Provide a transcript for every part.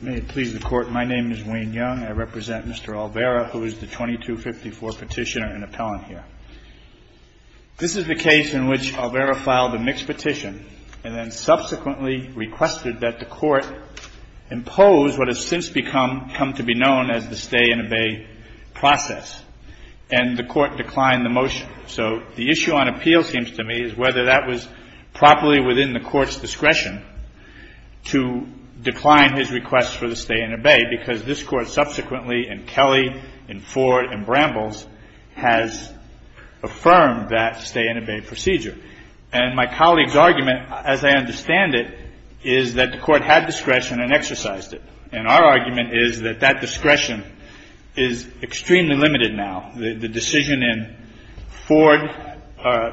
May it please the Court, my name is Wayne Young. I represent Mr. Alvera, who is the 2254 petitioner and appellant here. This is the case in which Alvera filed a mixed petition and then subsequently requested that the Court impose what has since become, come to be known as the stay and obey process. And the Court declined the motion. So the issue on appeal seems to me is whether that was properly within the Court's discretion to decline his request for the stay and obey, because this Court subsequently, and Kelly, and Ford, and Brambles has affirmed that stay and obey procedure. And my colleague's argument, as I understand it, is that the Court had discretion and exercised it. And our argument is that that discretion is extremely limited now. The decision in Ford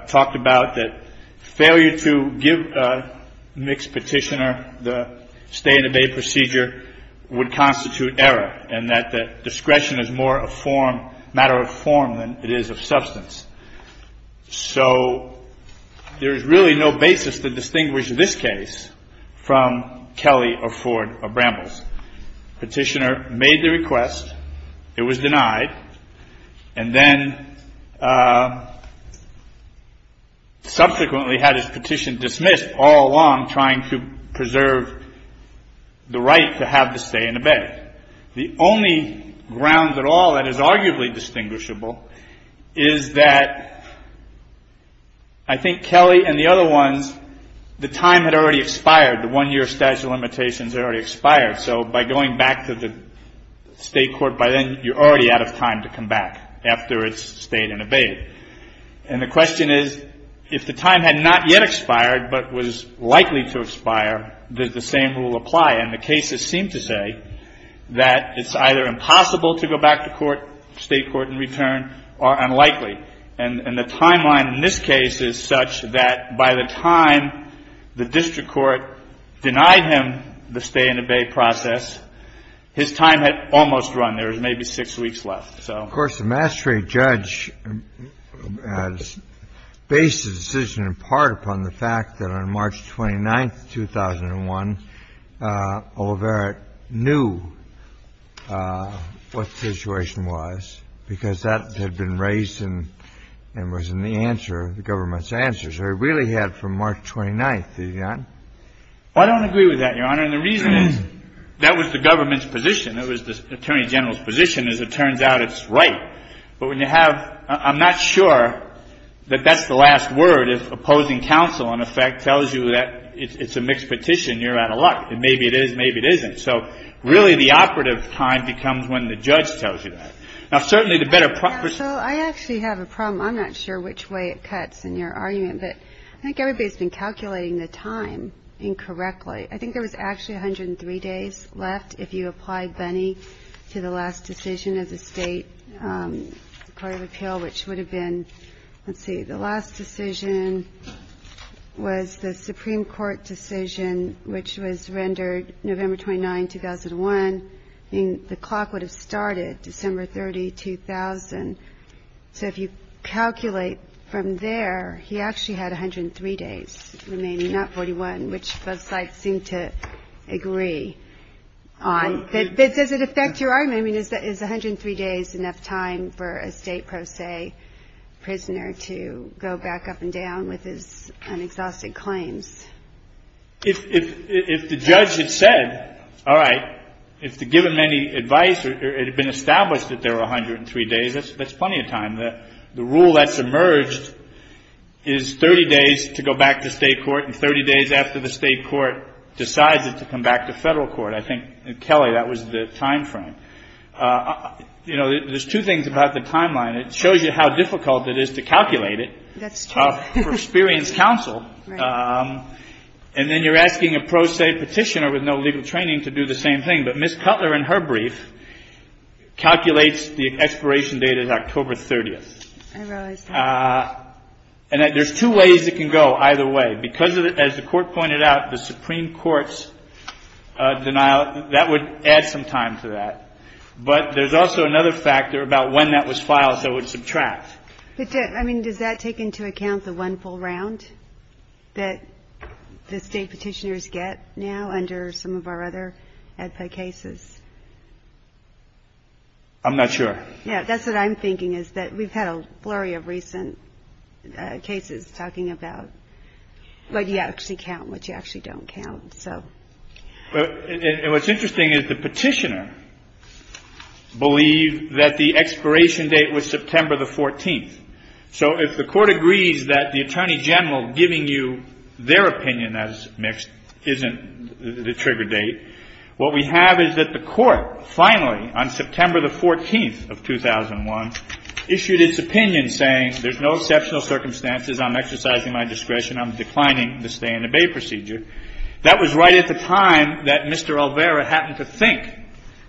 talked about that failure to give a mixed petitioner the stay and obey procedure would constitute error, and that the discretion is more a form, matter of form than it is of substance. So there is really no basis to distinguish this case from Kelly or Ford or Brambles. Petitioner made the request. It was denied. And then subsequently had his petition dismissed all along trying to preserve the right to have the stay and obey. The only ground at all that is arguably distinguishable is that I think Kelly and the other ones, the time had already expired. The one-year statute of limitations had already expired. So by going back to the State Court by then, you're already out of time to come back after it's expired, but was likely to expire, does the same rule apply? And the cases seem to say that it's either impossible to go back to court, State court and return, or unlikely. And the timeline in this case is such that by the time the district court denied him the stay and obey process, his time had almost run. There was maybe six weeks left. Of course, the mastery judge has based the decision in part upon the fact that on March 29th, 2001, O'Leary knew what the situation was because that had been raised and it was in the answer, the government's answers. They really had from March 29th. I don't agree with that, Your Honor. And the reason is that was the government's position. It was the Attorney General's position. As it turns out, it's right. But when you have – I'm not sure that that's the last word, if opposing counsel, in effect, tells you that it's a mixed petition, you're out of luck. Maybe it is, maybe it isn't. So really the operative time becomes when the judge tells you that. Now, certainly the better – So I actually have a problem. I'm not sure which way it cuts in your argument, but I think everybody's been calculating the time incorrectly. I think there was actually 103 days left if you apply Bunney to the last decision as a State Court of Appeal, which would have been – let's see. The last decision was the Supreme Court decision, which was rendered November 29, 2001. I think the clock would have started December 30, 2000. So if you calculate from there, he actually had 103 days remaining, not 41, which both on – but does it affect your argument? I mean, is 103 days enough time for a State pro se prisoner to go back up and down with his unexhausted claims? If the judge had said, all right, if to give him any advice, it had been established that there were 103 days, that's plenty of time. The rule that's emerged is 30 days to go back to State court and 30 days after the State court decides it to come back to federal court. I think, Kelly, that was the time frame. You know, there's two things about the timeline. It shows you how difficult it is to calculate it for experienced counsel, and then you're asking a pro se petitioner with no legal training to do the same thing. But Ms. Cutler, in her brief, calculates the expiration date as October 30th. And there's two ways it can go either way. Because, as the Court pointed out, the Supreme Court's denial, that would add some time to that. But there's also another factor about when that was filed that would subtract. But, I mean, does that take into account the one full round that the State petitioners get now under some of our other AEDPA cases? I'm not sure. Yeah, that's what I'm thinking, is that we've had a flurry of recent cases talking about, like, you actually count what you actually don't count. So… And what's interesting is the petitioner believed that the expiration date was September the 14th. So if the Court agrees that the Attorney General giving you their opinion as mixed isn't the trigger date, what we have is that the Court finally, on September the 14th of 2001, issued its opinion saying there's no exceptional circumstances I'm exercising my discretion. I'm declining the stay-in-the-bay procedure. That was right at the time that Mr. Olvera happened to think.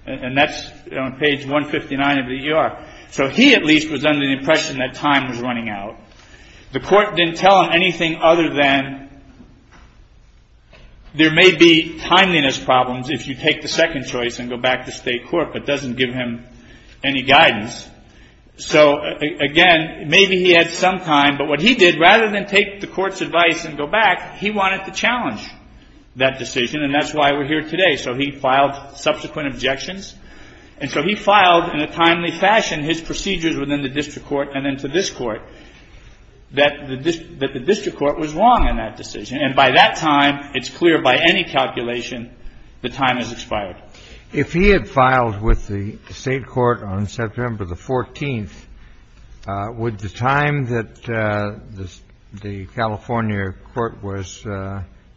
And that's on page 159 of the E.R. So he, at least, was under the impression that time was running out. The Court didn't tell him anything other than there may be timeliness problems if you take the second choice and go back to State court, but doesn't give him any guidance. So again, maybe he had some time, but what he did, rather than take the Court's advice and go back, he wanted to challenge that decision, and that's why we're here today. So he filed subsequent objections. And so he filed in a timely fashion his procedures within the district court and then to this court that the district court was wrong in that decision. And by that time, it's clear by any calculation the time has expired. If he had filed with the State court on September the 14th, would the time that the California court was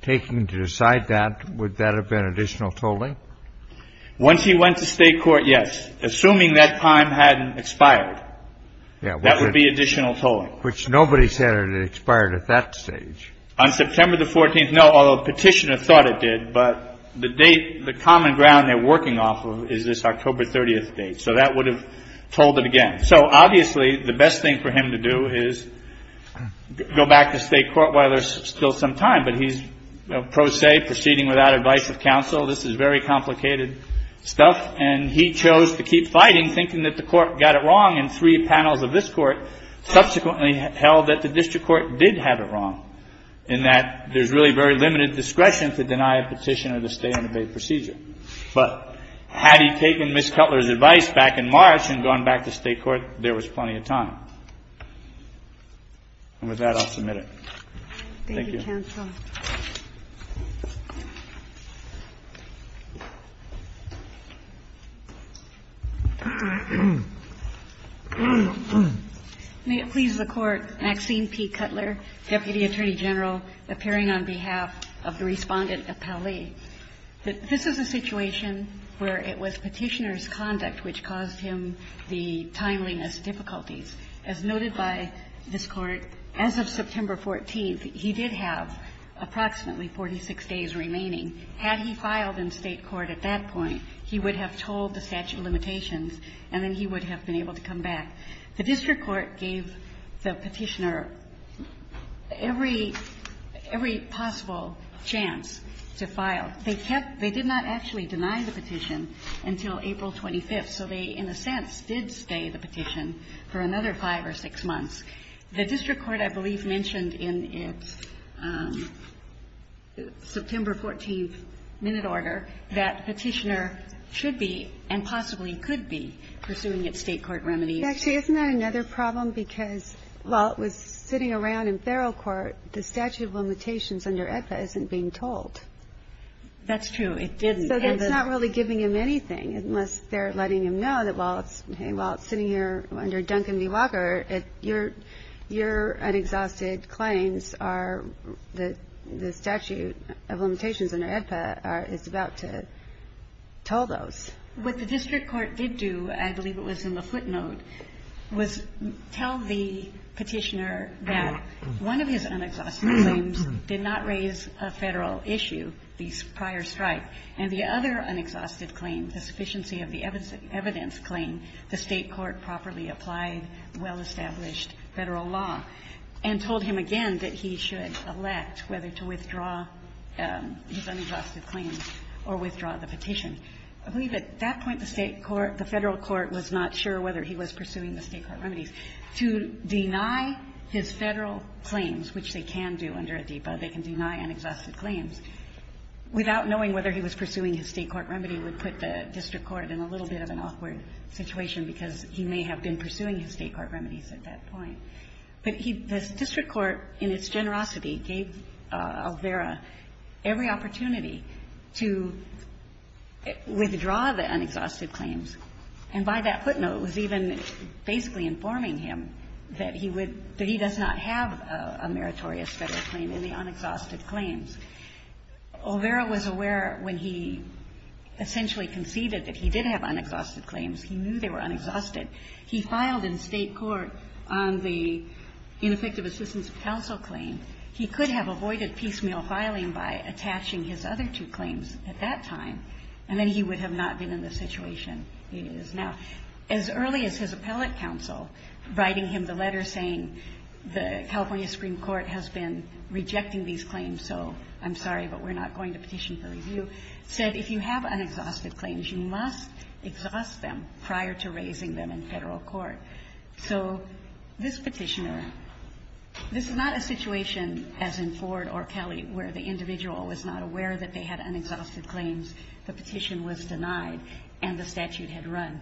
taking to decide that, would that have been additional tolling? Once he went to State court, yes. Assuming that time hadn't expired, that would be additional tolling. Which nobody said it had expired at that stage. On September the 14th, no, although the petitioner thought it did, but the date, the common ground they're working off of is this October 30th date. So that would have tolled it again. So obviously, the best thing for him to do is go back to State court while there's still some time, but he's pro se, proceeding without advice of counsel. This is very complicated stuff. And he chose to keep fighting, thinking that the court got it wrong in three panels of this court, subsequently held that the district court did have it wrong in that there's really very limited discretion to deny a petition or to stay and obey procedure. But had he taken Ms. Cutler's advice back in March and gone back to State court, there was plenty of time. And with that, I'll submit it. Thank you, counsel. May it please the Court. Maxine P. Cutler, Deputy Attorney General, appearing on behalf of the Respondent of Pauley. This is a situation where it was Petitioner's conduct which caused him the timeliness difficulties. As noted by this Court, as of September 14th, he did have approximately 46 days remaining. Had he filed in State court at that point, he would have tolled the statute of limitations, and then he would have been able to come back. The district court gave the Petitioner every possible chance to file. They kept they did not actually deny the petition until April 25th. So they, in a sense, did stay the petition for another five or six months. The district court, I believe, mentioned in its September 14th minute order that Petitioner should be and possibly could be pursuing its State court remedies. Actually, isn't that another problem? Because while it was sitting around in feral court, the statute of limitations under AEDPA isn't being tolled. That's true. It didn't. So that's not really giving him anything, unless they're letting him know that, hey, while it's sitting here under Duncombe v. Walker, your unexhausted claims are the statute of limitations under AEDPA is about to toll those. What the district court did do, I believe it was in the footnote, was tell the Petitioner that one of his unexhausted claims did not raise a Federal issue, the prior strike. And the other unexhausted claim, the sufficiency of the evidence claim, the State court properly applied well-established Federal law and told him again that he should elect whether to withdraw his unexhausted claims or withdraw the petition. I believe at that point the State court, the Federal court was not sure whether he was pursuing the State court remedies. To deny his Federal claims, which they can do under AEDPA, they can deny unexhausted claims, without knowing whether he was pursuing his State court remedy would put the district court in a little bit of an awkward situation because he may have been pursuing his State court remedies at that point. But the district court, in its generosity, gave Alvera every opportunity to withdraw the unexhausted claims. And by that footnote, it was even basically informing him that he would — that he does not have a meritorious Federal claim in the unexhausted claims. Alvera was aware when he essentially conceded that he did have unexhausted claims, he knew they were unexhausted. He filed in State court on the ineffective assistance of counsel claim. He could have avoided piecemeal filing by attaching his other two claims at that time, and then he would have not been in the situation he is now. As early as his appellate counsel writing him the letter saying the California Supreme Court has been rejecting these claims, so I'm sorry, but we're not going to petition for review, said if you have unexhausted claims, you must exhaust them prior to raising them in Federal court. So this Petitioner, this is not a situation, as in Ford or Kelly, where the individual was not aware that they had unexhausted claims, the petition was denied, and the statute had run.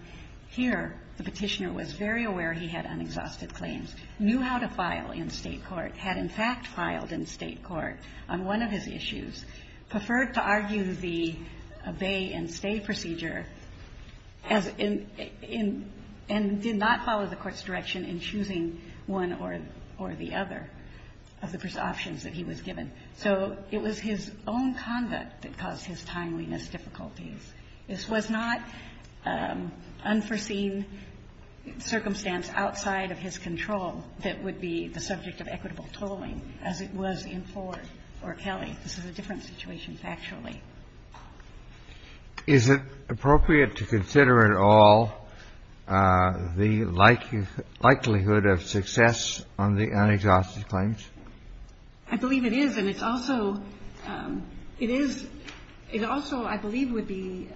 Here, the Petitioner was very aware he had unexhausted claims, knew how to file in State court, had in fact filed in State court on one of his issues, preferred to argue the obey and stay procedure as in — and did not follow the Court's direction in choosing one or the other of the options that he was given. So it was his own conduct that caused his timeliness difficulties. This was not unforeseen circumstance outside of his control that would be the subject of equitable tolling as it was in Ford or Kelly. This is a different situation factually. Kennedy. Is it appropriate to consider at all the likelihood of success on the unexhausted claims? I believe it is, and it's also — it is — it also, I believe, would be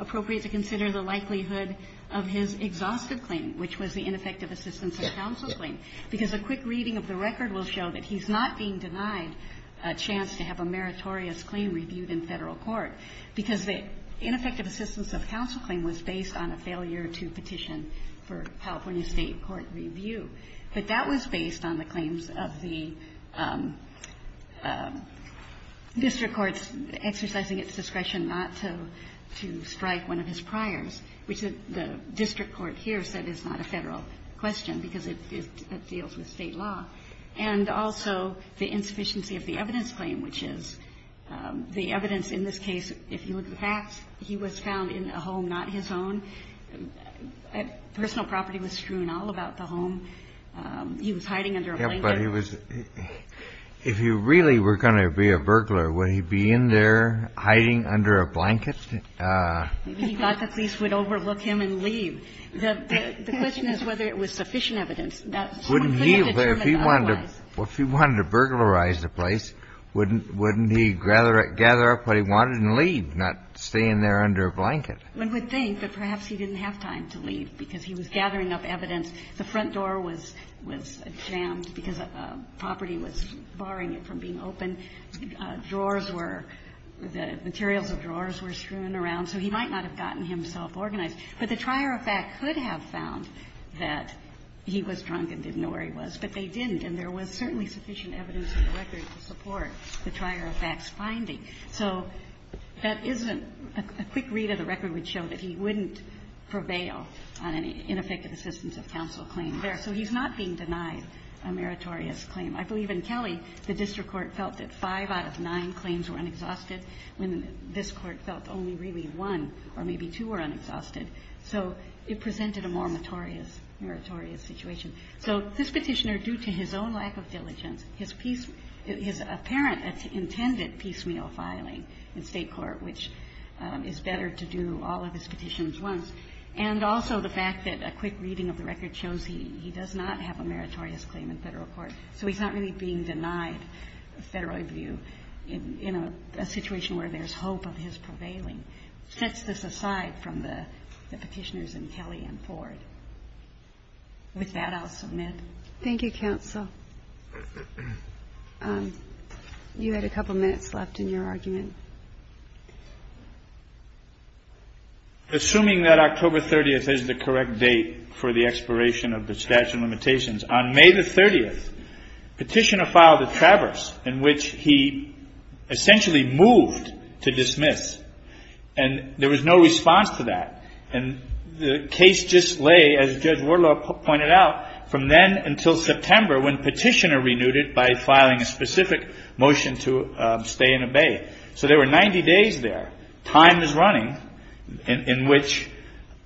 appropriate to consider the likelihood of his exhaustive claim, which was the ineffective assistance of counsel claim. Because a quick reading of the record will show that he's not being denied a chance to have a meritorious claim reviewed in Federal court, because the ineffective assistance of counsel claim was based on a failure to petition for California State court review. But that was based on the claims of the district courts exercising its discretion not to strike one of his priors, which the district court here said is not a Federal question because it deals with State law. And also the insufficiency of the evidence claim, which is the evidence in this case, if you look at the facts, he was found in a home not his own. Personal property was strewn all about the home. He was hiding under a blanket. Yeah, but he was — if he really were going to be a burglar, would he be in there hiding under a blanket? He thought the police would overlook him and leave. The question is whether it was sufficient evidence. That's what we have determined otherwise. Wouldn't he, if he wanted to burglarize the place, wouldn't he gather up what he wanted and leave, not stay in there under a blanket? One would think that perhaps he didn't have time to leave because he was gathering up evidence. The front door was jammed because property was barring it from being opened. Drawers were — the materials of drawers were strewn around. So he might not have gotten himself organized. But the trier of fact could have found that he was drunk and didn't know where he was, but they didn't. And there was certainly sufficient evidence in the record to support the trier of fact's finding. So that isn't — a quick read of the record would show that he wouldn't prevail on any ineffective assistance of counsel claim there. So he's not being denied a meritorious claim. I believe in Kelly, the district court felt that five out of nine claims were unexhausted, when this Court felt only really one or maybe two were unexhausted. So it presented a more meritorious situation. So this Petitioner, due to his own lack of diligence, his apparent intended piecemeal filing in State court, which is better to do all of his petitions once, and also the fact that a quick reading of the record shows he does not have a meritorious claim in Federal court, so he's not really being denied a Federal review in a situation where there's hope of his prevailing, sets this aside from the Petitioners in Kelly and Ford. With that, I'll submit. Thank you, counsel. You had a couple minutes left in your argument. Assuming that October 30th is the correct date for the expiration of the statute of limitations, on May the 30th, Petitioner filed a traverse in which he essentially moved to dismiss, and there was no response to that. And the case just lay, as Judge Wardlaw pointed out, from then until September when Petitioner renewed it by filing a specific motion to stay and obey. So there were 90 days there. Time is running in which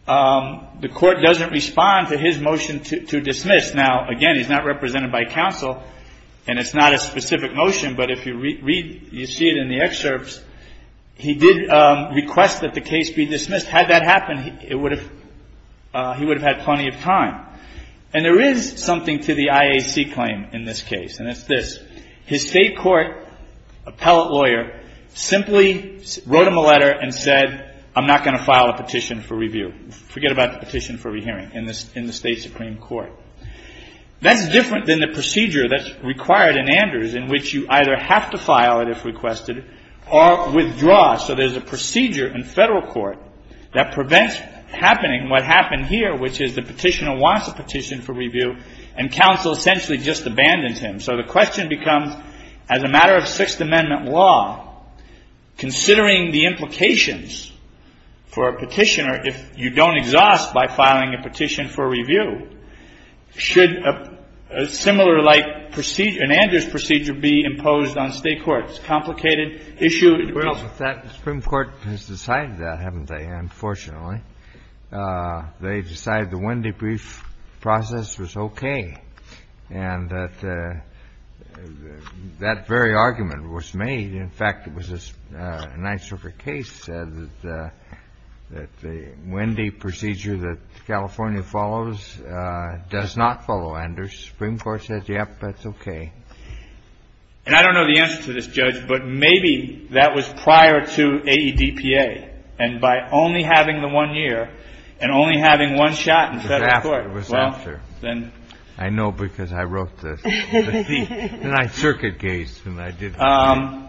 the Court doesn't respond to his motion to dismiss. Now, again, he's not represented by counsel, and it's not a specific motion, but if you read, you see it in the excerpts, he did request that the case be dismissed. Had that happened, he would have had plenty of time. And there is something to the IAC claim in this case, and it's this. His state court appellate lawyer simply wrote him a letter and said, I'm not going to file a petition for review. Forget about the petition for re-hearing in the state supreme court. That's different than the procedure that's required in Anders in which you either have to file it if requested or withdraw. So there's a procedure in federal court that prevents happening what happened here, which is the petitioner wants a petition for review, and counsel essentially just abandons him. So the question becomes, as a matter of Sixth Amendment law, considering the implications for a petitioner if you don't exhaust by filing a petition for review, should a similar-like procedure, an Anders procedure, be imposed on state courts? Complicated issue in the public. Kennedy, that the Supreme Court has decided that, haven't they, unfortunately? They decided the Wendy brief process was okay, and that that very argument was made. In fact, it was a Nisorker case that said that the Wendy procedure that California follows does not follow Anders. The Supreme Court said, yep, that's okay. And I don't know the answer to this, Judge, but maybe that was prior to AEDPA. And by only having the one year and only having one shot in federal court, well, then. I know, because I wrote the C. And I circuit-gazed when I did that.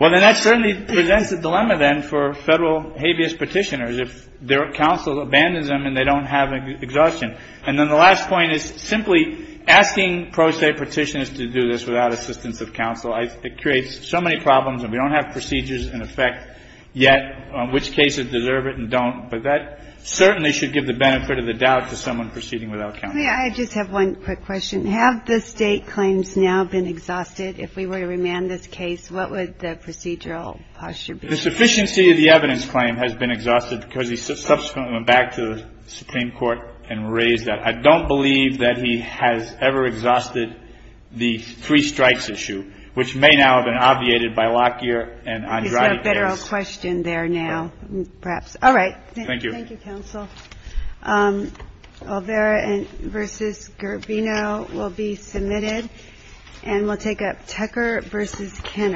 Well, then that certainly presents a dilemma, then, for federal habeas petitioners. If their counsel abandons them and they don't have exhaustion. And then the last point is, simply asking pro se petitioners to do this without assistance of counsel, it creates so many problems. And we don't have procedures in effect yet on which cases deserve it and don't. But that certainly should give the benefit of the doubt to someone proceeding without counsel. I just have one quick question. Have the state claims now been exhausted? If we were to remand this case, what would the procedural posture be? The sufficiency of the evidence claim has been exhausted because he subsequently went back to the Supreme Court and raised that. I don't believe that he has ever exhausted the three strikes issue, which may now have been obviated by Lockyer and Andrade case. Is there a better question there now, perhaps? All right. Thank you. Thank you, counsel. Olvera v. Garbino will be submitted. And we'll take up Tucker v. Kenner.